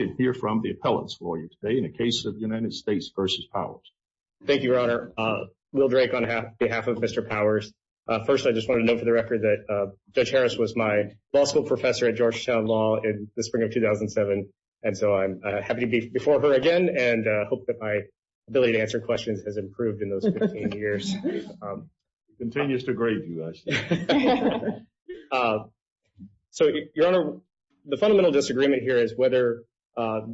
and hear from the appellants for you today in the case of the United States v. Powers. Thank you, Your Honor. Will Drake on behalf of Mr. Powers. First, I just wanted to note for the record that Judge Harris was my law school professor at Georgetown Law in the spring of 2007, and so I'm happy to be before her again and hope that my ability to answer questions has improved in those 15 years. Continues to grade you, actually. So, Your Honor, the fundamental disagreement here is whether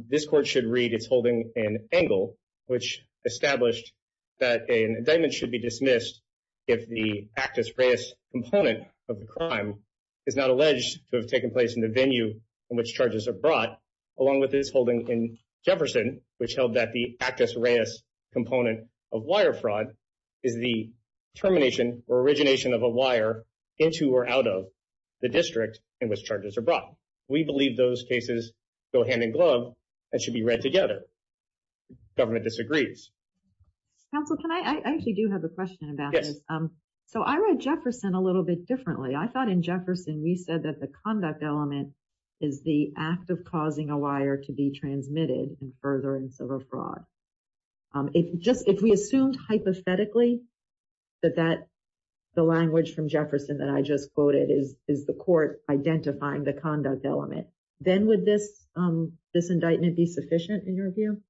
this court should read its holding in Engel, which established that an indictment should be dismissed if the actus reus component of the crime is not alleged to have taken place in the venue in which charges are brought, along with this holding in Jefferson, which held that the actus reus component of wire fraud is the termination or origination of a wire into or out of the district in which charges are brought. We believe those cases go hand in glove and should be read together. Government disagrees. Counsel, can I actually do have a question about this? So I read Jefferson a little bit differently. I thought in Jefferson we said that the conduct element is the act of causing a wire to be transmitted and furtherance of a fraud. If we assumed hypothetically that the language from Jefferson that I just quoted is the court identifying the conduct element, then would this indictment be sufficient in your view?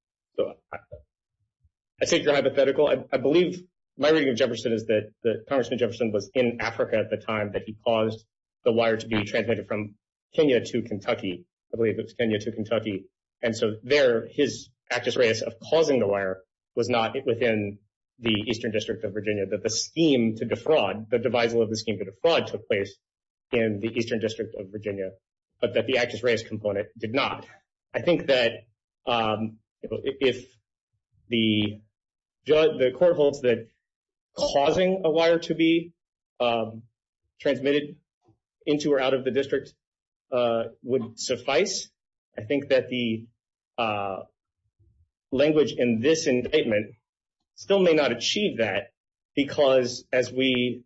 I take your hypothetical. I believe my reading of Jefferson is that Congressman Jefferson was in Africa at the time that he caused the wire to be transmitted from Kenya to Kentucky. I believe it was Kenya to Kentucky. And so there his actus reus of causing the wire was not within the Eastern District of Virginia, that the scheme to defraud, the devisal of the scheme to defraud took place in the Eastern District of Virginia, but that the actus reus component did not. I think that if the court holds that causing a wire to be transmitted into or out of the district would suffice, I think that the language in this indictment still may not achieve that because as we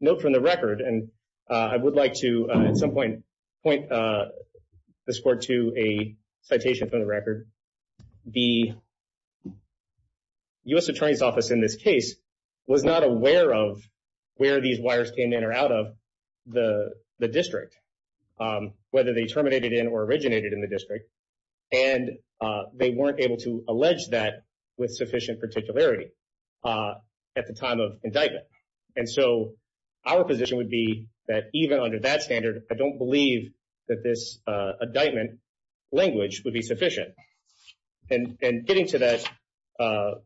note from the record, and I would like to at some point point this court to a citation from the record, the U.S. Attorney's Office in this case was not aware of where these wires came in or out of the district, whether they terminated in or originated in the district, and they weren't able to allege that with sufficient particularity at the time of indictment. And so our position would be that even under that standard, I don't believe that this indictment language would be sufficient. And getting to that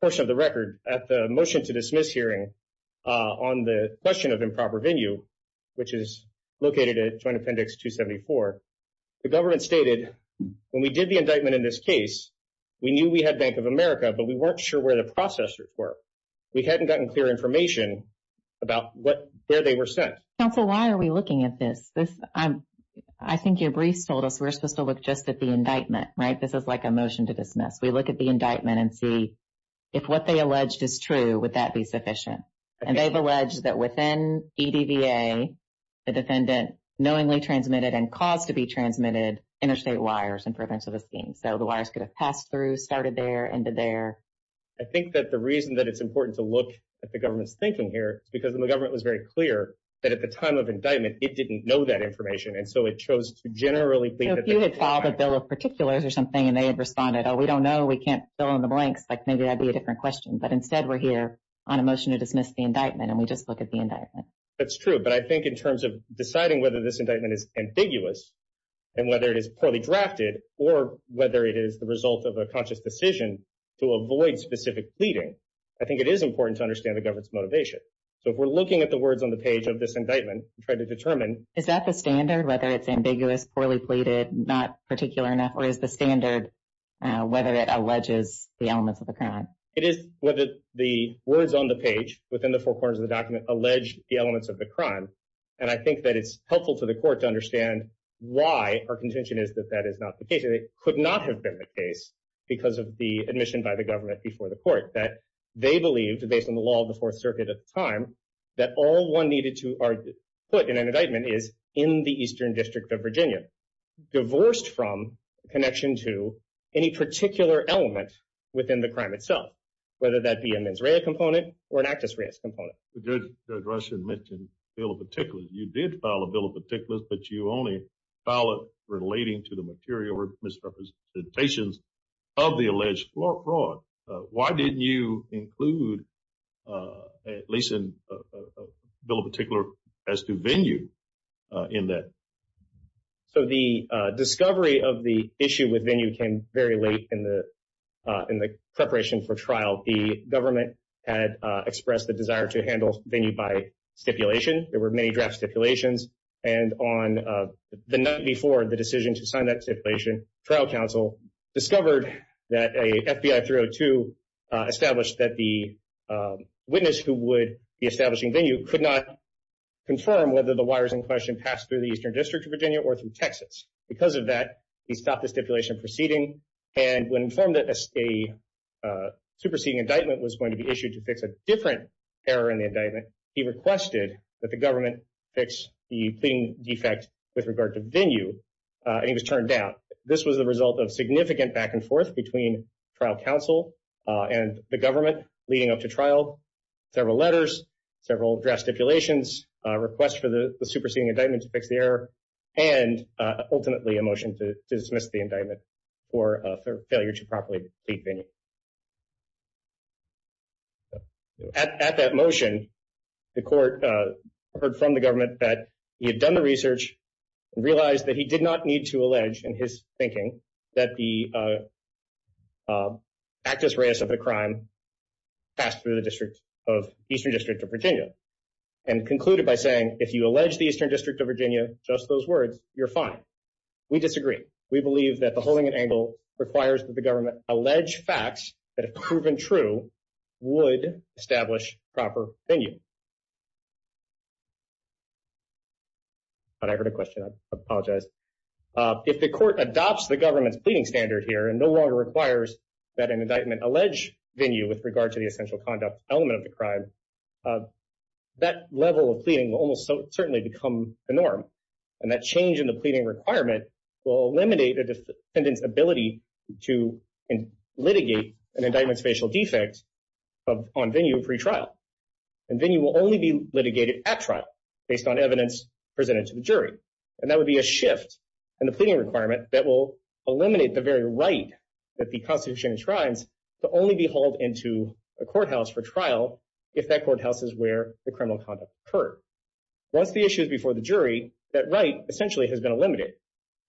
portion of the record at the motion to dismiss hearing on the question of improper venue, which is located at Joint Appendix 274, the government stated when we did the indictment in this case, we knew we had Bank of America, but we weren't sure where the processors were. We hadn't gotten clear information about where they were sent. Counsel, why are we looking at this? I think your briefs told us we're supposed to look just at the indictment and see if what they alleged is true, would that be sufficient? And they've alleged that within EDVA, the defendant knowingly transmitted and caused to be transmitted interstate wires in prevention of a scene. So the wires could have passed through, started there, ended there. I think that the reason that it's important to look at the government's thinking here is because the government was very clear that at the time of indictment, it didn't know that information. And so it chose to generally believe that they could find it. If you had filed a bill of particulars or something and they had responded, oh, we don't know, we can't fill in the blanks, like maybe that'd be a different question. But instead we're here on a motion to dismiss the indictment and we just look at the indictment. That's true. But I think in terms of deciding whether this indictment is ambiguous and whether it is poorly drafted or whether it is the result of a conscious decision to avoid specific pleading, I think it is important to understand the government's motivation. So if we're looking at the words on the page of this indictment and try to determine. Is that the standard, whether it's ambiguous, poorly pleaded, not particular enough, or is the standard whether it alleges the elements of the crime? It is whether the words on the page within the four corners of the document allege the elements of the crime. And I think that it's helpful to the court to understand why our contention is that that is not the case. It could not have been the case because of the admission by the government before the court that they believed, based on the law of the Fourth Circuit at the time, that all one needed to put in an indictment is in the Eastern District of Virginia, divorced from connection to any particular element within the crime itself, whether that be a mens rea component or an actus res component. The judge mentioned a bill of particulars. You did file a bill of particulars, but you only file it relating to the material misrepresentations of the alleged fraud. Why didn't you include, at least in a bill of particulars, as to venue in that? So the discovery of the issue with venue came very late in the preparation for trial. The government had expressed the desire to handle venue by stipulation. There were many draft stipulations. And on the night before the decision to sign that stipulation, the trial council discovered that a FBI 302 established that the witness who would be establishing venue could not confirm whether the wires in question passed through the Eastern District of Virginia or through Texas. Because of that, he stopped the stipulation proceeding. And when informed that a superseding indictment was going to be issued to fix a different error in the indictment, he requested that the government fix the pleading defect with regard to venue. And he was turned down. This was the result of significant back and forth between trial council and the government leading up to trial, several letters, several draft stipulations, a request for the superseding indictment to fix the error, and ultimately a motion to dismiss the indictment for failure to properly plead venue. At that motion, the court heard from the government that he had done the research and realized that he did not need to allege, in his thinking, that the actus reus of the crime passed through the Eastern District of Virginia. And concluded by saying, if you allege the Eastern District of Virginia, just those words, you're fine. We disagree. We believe that the holding an angle requires that the government allege facts that have proven true would establish proper venue. But I heard a question. I apologize. If the court adopts the government's pleading standard here and no longer requires that an indictment allege venue with regard to the essential conduct element of the crime, that level of pleading will almost certainly become the norm. And that change in the pleading requirement will eliminate a defendant's ability to litigate an indictment's facial defect on venue pre-trial. And venue will only be litigated at trial, based on evidence presented to the jury. And that would be a shift in the pleading requirement that will eliminate the very right that the Constitution enshrines to only be hauled into a courthouse for trial if that courthouse is where the criminal conduct occurred. Once the issue is before the jury, that right essentially has been eliminated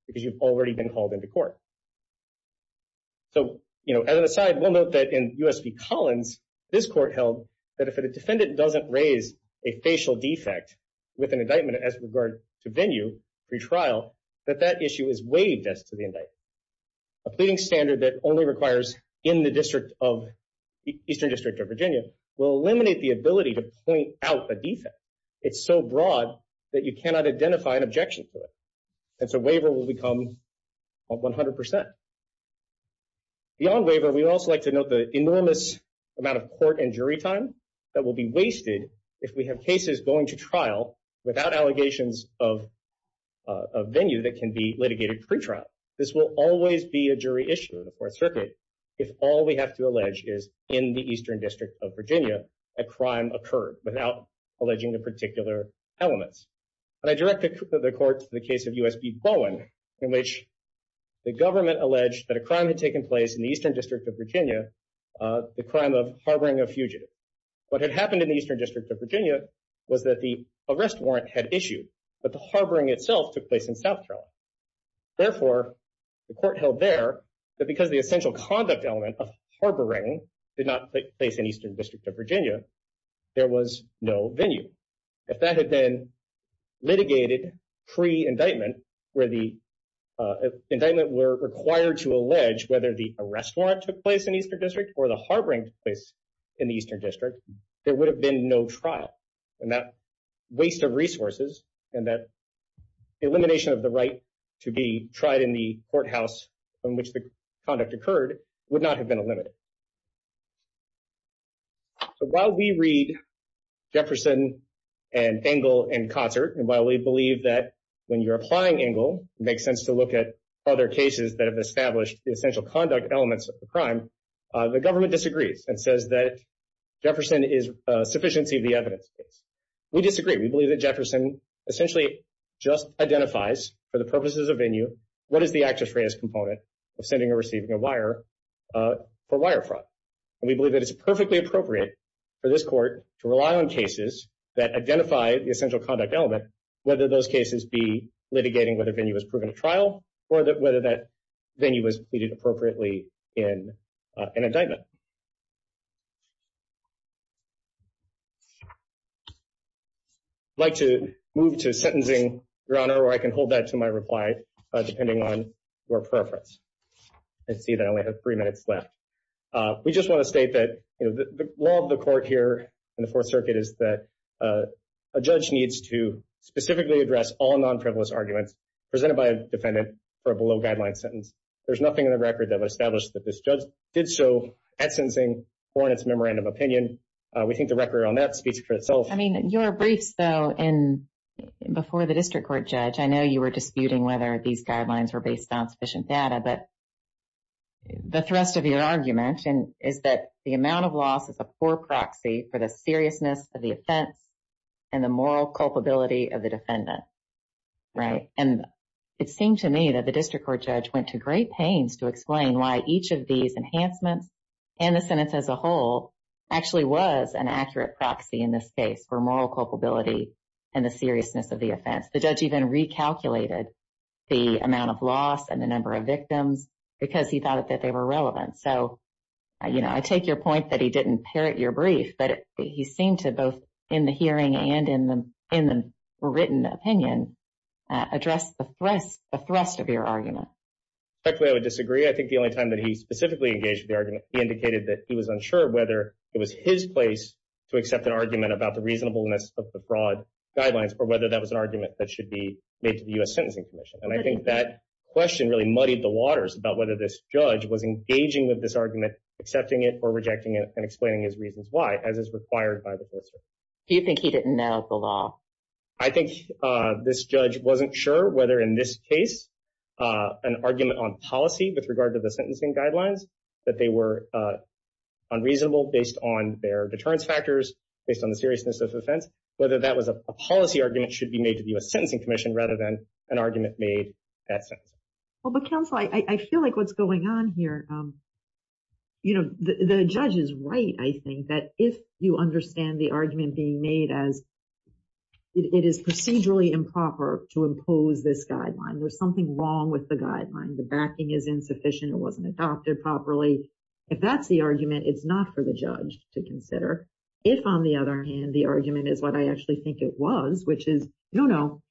because you've already been hauled into court. So, as an aside, we'll note that in U.S. v. Collins, this court held that if a defendant doesn't raise a facial defect with an indictment as regard to venue pre-trial, that that issue is waived as to the indictment. A pleading standard that only requires in the Eastern District of Virginia will eliminate the ability to point out the defect. It's so broad that you cannot identify an objection to it. And so waiver will become 100%. Beyond waiver, we'd also like to note the enormous amount of court and jury time that will be wasted if we have cases going to trial without allegations of venue that can be litigated pre-trial. This will always be a jury issue in the Fourth Circuit if all we have to allege is in the Eastern District of Virginia a crime occurred without alleging the particular elements. And I direct the court to the case of U.S. v. Bowen, in which the government alleged that a crime had taken place in the Eastern District of Virginia, the crime of harboring a fugitive. What had happened in the Eastern District of Virginia was that the arrest warrant had issued, but the harboring itself took place in South Carolina. Therefore, the court held there that because the essential conduct element of there was no venue. If that had been litigated pre-indictment, where the indictment were required to allege whether the arrest warrant took place in the Eastern District or the harboring took place in the Eastern District, there would have been no trial. And that waste of resources and that elimination of the right to be tried in the courthouse from which the conduct occurred would not have been eliminated. So while we read Jefferson and Engle in concert, and while we believe that when you're applying Engle, it makes sense to look at other cases that have established the essential conduct elements of the crime, the government disagrees and says that Jefferson is a sufficiency of the evidence case. We disagree. We believe that Jefferson essentially just identifies for the purposes of venue, what is the actus reus component of sending or receiving a wire for wire fraud. And we believe that it's perfectly appropriate for this court to rely on cases that identify the essential conduct element, whether those cases be litigating whether venue was proven to trial or whether that venue was pleaded appropriately in an indictment. I'd like to move to sentencing, Your Honor, or I can hold that to my reply depending on your preference. I see that I only have three minutes left. We just want to state that the law of the court here in the Fourth Circuit is that a judge needs to specifically address all non-frivolous arguments presented by a defendant for a below-guideline sentence. There's nothing in the record that would establish that this judge did so at sentencing or in its memorandum of opinion. We think the record on that speaks for itself. I mean, your briefs, though, before the district court judge, I know you were disputing whether these guidelines were based on sufficient data, but the thrust of your argument is that the amount of loss is a poor proxy for the seriousness of the offense and the moral culpability of the defendant, right? And it seemed to me that the district court judge went to great pains to explain why each of these enhancements and the sentence as a whole actually was an accurate proxy in this case for moral culpability and the seriousness of the offense. The judge even recalculated the amount of loss and the number of victims because he thought that they were relevant. So, you know, I take your point that he didn't parrot your brief, but he seemed to both in the hearing and in the written opinion address the thrust of your argument. Actually, I would disagree. I think the only time that he specifically engaged with the argument, he indicated that he was unsure whether it was his place to accept an argument about the reasonableness of the fraud guidelines or whether that was an argument that should be made to the U.S. Sentencing Commission. And I think that question really muddied the waters about whether this judge was engaging with this argument, accepting it or rejecting it, and explaining his reasons why, as is required by the district. Do you think he didn't know the law? I think this judge wasn't sure whether in this case an argument on policy with regard to the sentencing guidelines, that they were unreasonable based on their deterrence factors, based on the whether that was a policy argument should be made to the U.S. Sentencing Commission rather than an argument made that sentence. Well, but counsel, I feel like what's going on here, you know, the judge is right. I think that if you understand the argument being made as it is procedurally improper to impose this guideline, there's something wrong with the guideline. The backing is insufficient. It wasn't adopted properly. If that's the argument, it's not for the judge to consider. If, on the other hand, the argument is what I actually think it was, which is, no, no,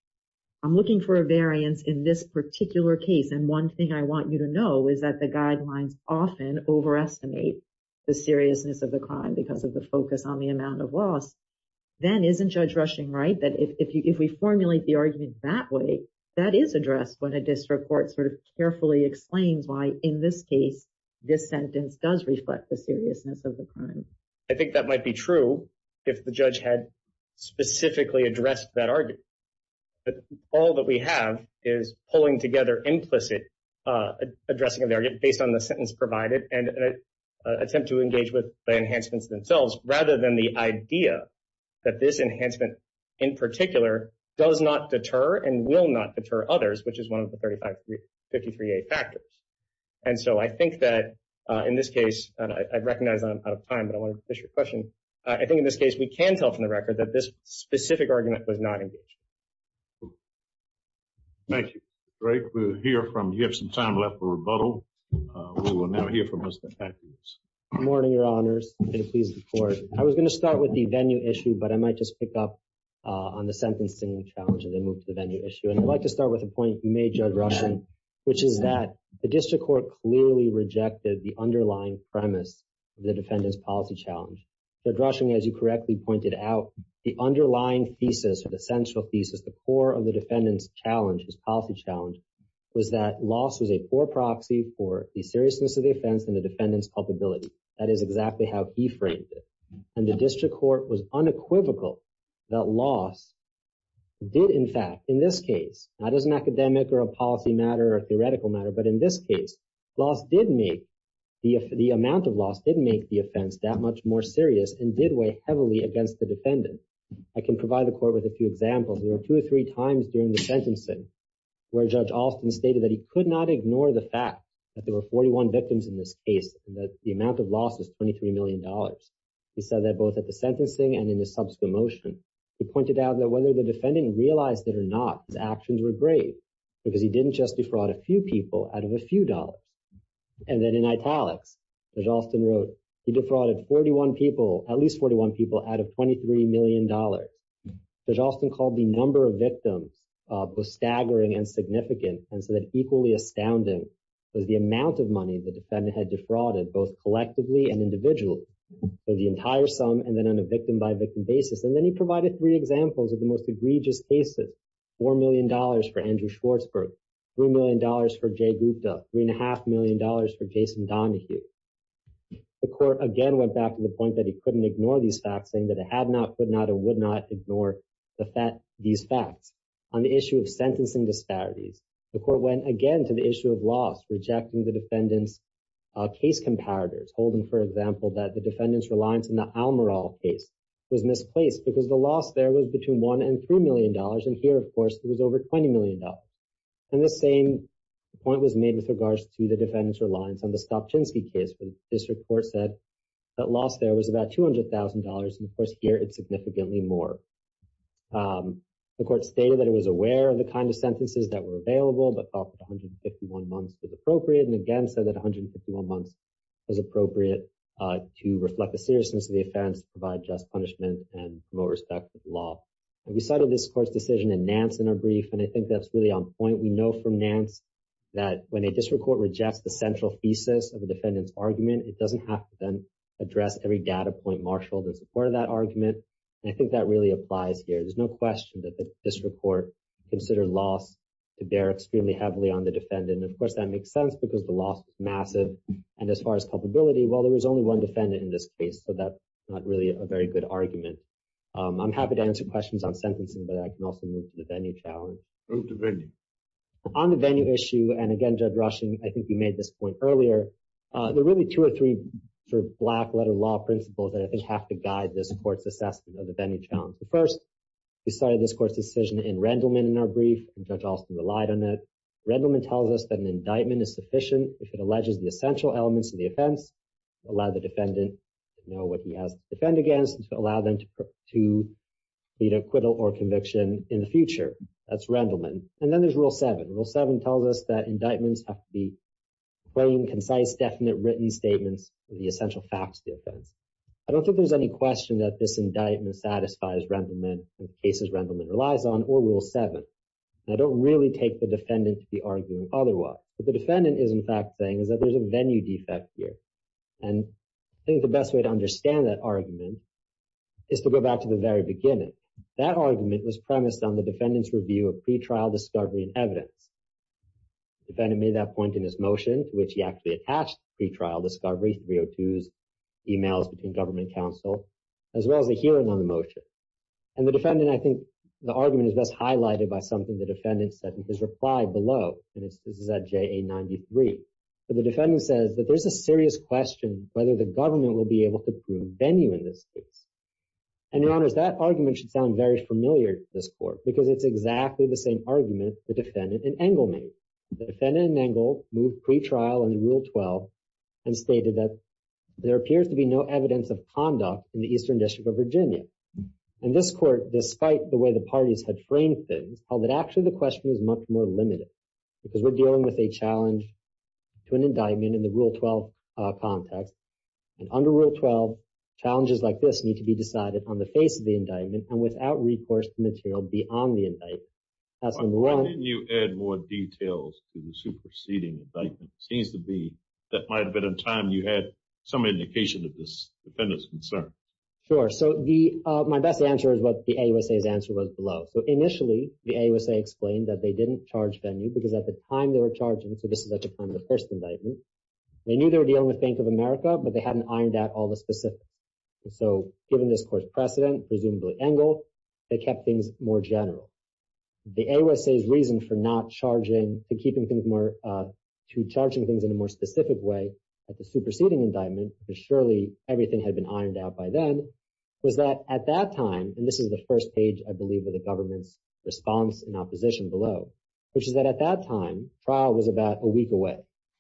I'm looking for a variance in this particular case, and one thing I want you to know is that the guidelines often overestimate the seriousness of the crime because of the focus on the amount of loss, then isn't Judge Rushing right that if we formulate the argument that way, that is addressed when a district court sort of carefully explains why, in this case, this sentence does reflect the seriousness of the crime? I think that might be true if the judge had specifically addressed that argument. But all that we have is pulling together implicit addressing of the argument based on the sentence provided and an attempt to engage with the enhancements themselves rather than the idea that this enhancement in particular does not deter and will not deter others, which is one of the 35, 53A factors. And so I think that in this case, and I recognize I'm out of time, but I wanted to finish your question. I think in this case, we can tell from the record that this specific argument was not engaged. Thank you. Great. We'll hear from you. You have some time left for rebuttal. We will now hear from Mr. Atkins. Good morning, Your Honors. I was going to start with the venue issue, but I might just pick up on the sentencing challenge and then move to the venue issue. And I'd like to start with a point you made, Judge Rushing, which is that the district court clearly rejected the underlying premise of the defendant's policy challenge. Judge Rushing, as you correctly pointed out, the underlying thesis or the central thesis, the core of the defendant's challenge, his policy challenge, was that loss was a poor proxy for the seriousness of the offense and the defendant's culpability. That is exactly how he framed it. And the district court was unequivocal that loss did, in fact, in this case, not as an academic or a policy matter or a theoretical matter, but in this case, loss did make, the amount of loss did make the offense that much more serious and did weigh heavily against the defendant. I can provide the court with a few examples. There were two or three times during the sentencing where Judge Alston stated that he could not ignore the fact that there were 41 victims in this case and that the amount of loss was $23 million. He said that both at the sentencing and in the subsequent motion, he pointed out that whether the defendant realized it or not, his actions were great because he didn't just defraud a few people out of a few dollars. And then in italics, Judge Alston wrote, he defrauded 41 people, at least 41 people, out of $23 million. Judge Alston called the number of victims both staggering and significant and said that equally astounding was the amount of money the defendant had defrauded both collectively and individually, so the entire sum and then on a victim-by-victim basis. And then he provided three examples of the most egregious cases, $4 million for Andrew Schwartzberg, $3 million for Jay Gupta, $3.5 million for Jason Donahue. The court again went back to the point that he couldn't ignore these facts, saying that it had not, would not, or would not ignore these facts. On the issue of sentencing disparities, the court went again to the issue of loss, rejecting the example that the defendant's reliance on the Almoral case was misplaced because the loss there was between $1 and $3 million. And here, of course, it was over $20 million. And the same point was made with regards to the defendant's reliance on the Stopchinsky case, when this report said that loss there was about $200,000. And of course, here it's significantly more. The court stated that it was aware of the kind of sentences that were available, but thought that 151 months was appropriate. And again, said that 151 months was appropriate to reflect the seriousness of the offense, provide just punishment, and promote respect for the law. And we cited this court's decision in Nance in our brief. And I think that's really on point. We know from Nance that when a district court rejects the central thesis of a defendant's argument, it doesn't have to then address every data point marshaled in support of that argument. And I think that really applies here. There's no question that the district court considered loss to bear extremely heavily on the defendant. And of course, that makes sense, because the loss was massive. And as far as culpability, well, there was only one defendant in this case. So that's not really a very good argument. I'm happy to answer questions on sentencing, but I can also move to the venue challenge. Move to venue. On the venue issue, and again, Judge Rushing, I think you made this point earlier, there are really two or three black-letter law principles that I think have to guide this court's assessment of the venue challenge. The first, we cited this court's decision in Rendleman in our brief, and Judge Alston relied on it. Rendleman tells us that an indictment is sufficient if it alleges the essential elements of the offense, allow the defendant to know what he has to defend against, to allow them to plead acquittal or conviction in the future. That's Rendleman. And then there's Rule 7. Rule 7 tells us that indictments have to be plain, concise, definite, written statements of the essential facts of the offense. I don't think there's any question that this indictment satisfies Rendleman and the cases Rendleman relies on or Rule 7. I don't really take the defendant to be arguing otherwise. What the defendant is, in fact, saying is that there's a venue defect here. And I think the best way to understand that argument is to go back to the very beginning. That argument was premised on the defendant's review of pretrial discovery and evidence. The defendant made that point in his motion, to which he actually attached pretrial discovery, 302s, emails between government counsel, as well as a hearing on the motion. And the defendant, I think, the argument is best highlighted by something the defendant said in his reply below. And this is at JA 93. But the defendant says that there's a serious question whether the government will be able to prove venue in this case. And, Your Honors, that argument should sound very familiar to this court because it's exactly the same argument the defendant made. And stated that there appears to be no evidence of conduct in the Eastern District of Virginia. And this court, despite the way the parties had framed things, held that actually the question was much more limited because we're dealing with a challenge to an indictment in the Rule 12 context. And under Rule 12, challenges like this need to be decided on the face of the indictment and without recourse to material beyond the indictment. That's number one. Can you add more details to the superseding indictment? It seems to be that might have been a time you had some indication of this defendant's concern. Sure. So, my best answer is what the AUSA's answer was below. So, initially, the AUSA explained that they didn't charge venue because at the time they were charging, so this is at the time of the first indictment, they knew they were dealing with Bank of America, but they hadn't ironed out all the specifics. So, given this precedent, presumably Engel, they kept things more general. The AUSA's reason for not charging, to keeping things more, to charging things in a more specific way at the superseding indictment, because surely everything had been ironed out by then, was that at that time, and this is the first page, I believe, of the government's response in opposition below, which is that at that time, trial was about a week away.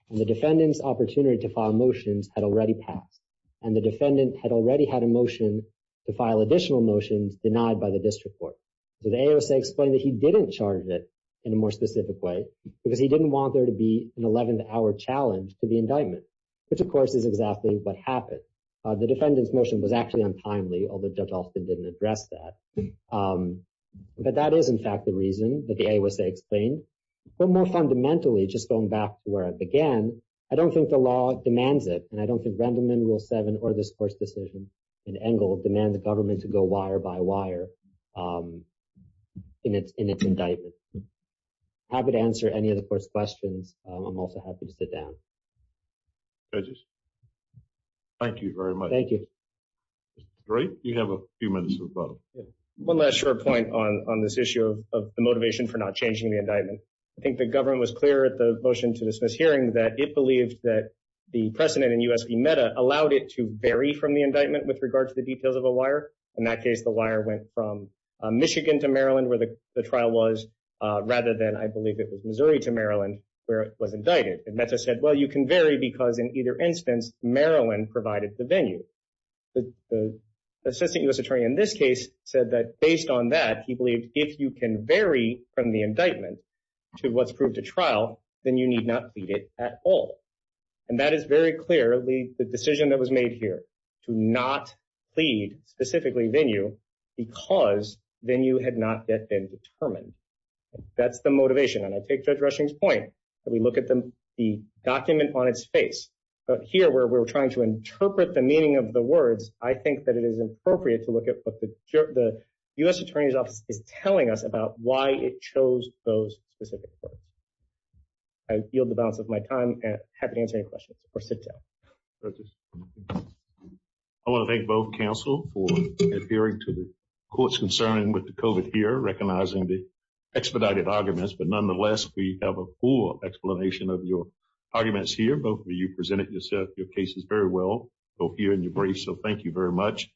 And the defendant's opportunity to file motions had already passed. And the defendant had already had a motion to file additional motions denied by the district court. So, the AUSA explained that he didn't charge it in a more specific way because he didn't want there to be an 11th hour challenge to the indictment, which, of course, is exactly what happened. The defendant's motion was actually untimely, although Judge Alston didn't address that. But that is, in fact, the reason that the AUSA explained. But more fundamentally, just going back to where it began, I don't think the law demands it, and I don't think Rule 7 or this court's decision in Engle demands the government to go wire by wire in its indictment. I'm happy to answer any of the court's questions. I'm also happy to sit down. Judges? Thank you very much. Thank you. Mr. Dorey, you have a few minutes of a problem. One last short point on this issue of the motivation for not changing the indictment. I think the government was clear at the motion to dismiss hearing that it believed that the precedent in U.S. v. Meta allowed it to vary from the indictment with regard to the details of a wire. In that case, the wire went from Michigan to Maryland, where the trial was, rather than, I believe it was Missouri to Maryland, where it was indicted. And Meta said, well, you can vary because in either instance, Maryland provided the venue. The assistant U.S. attorney in this case said that based on that, he believed if you can vary from the indictment to what's proved to trial, then you need not plead it at all. And that is very clearly the decision that was made here to not plead specifically venue because venue had not yet been determined. That's the motivation. And I take Judge Rushing's point that we look at the document on its face. But here, where we're trying to interpret the meaning of the words, I think that it is appropriate to look at what the U.S. attorney's office is telling us about why it chose those specific words. I yield the balance of my time and happy to answer any questions or sit down. I want to thank both counsel for adhering to the court's concern with the COVID here, recognizing the expedited arguments. But nonetheless, we have a full explanation of your arguments here. Both of you presented yourself, your cases very well, both here in your briefs. So thank you very much.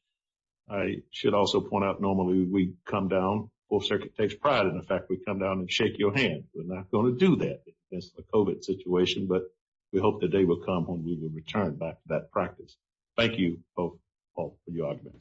I should also point out normally we come down before it takes pride in the fact we come down and shake your hand. We're not going to do that. That's the COVID situation. But we hope the day will come when we will return back to that practice. Thank you both for your arguments.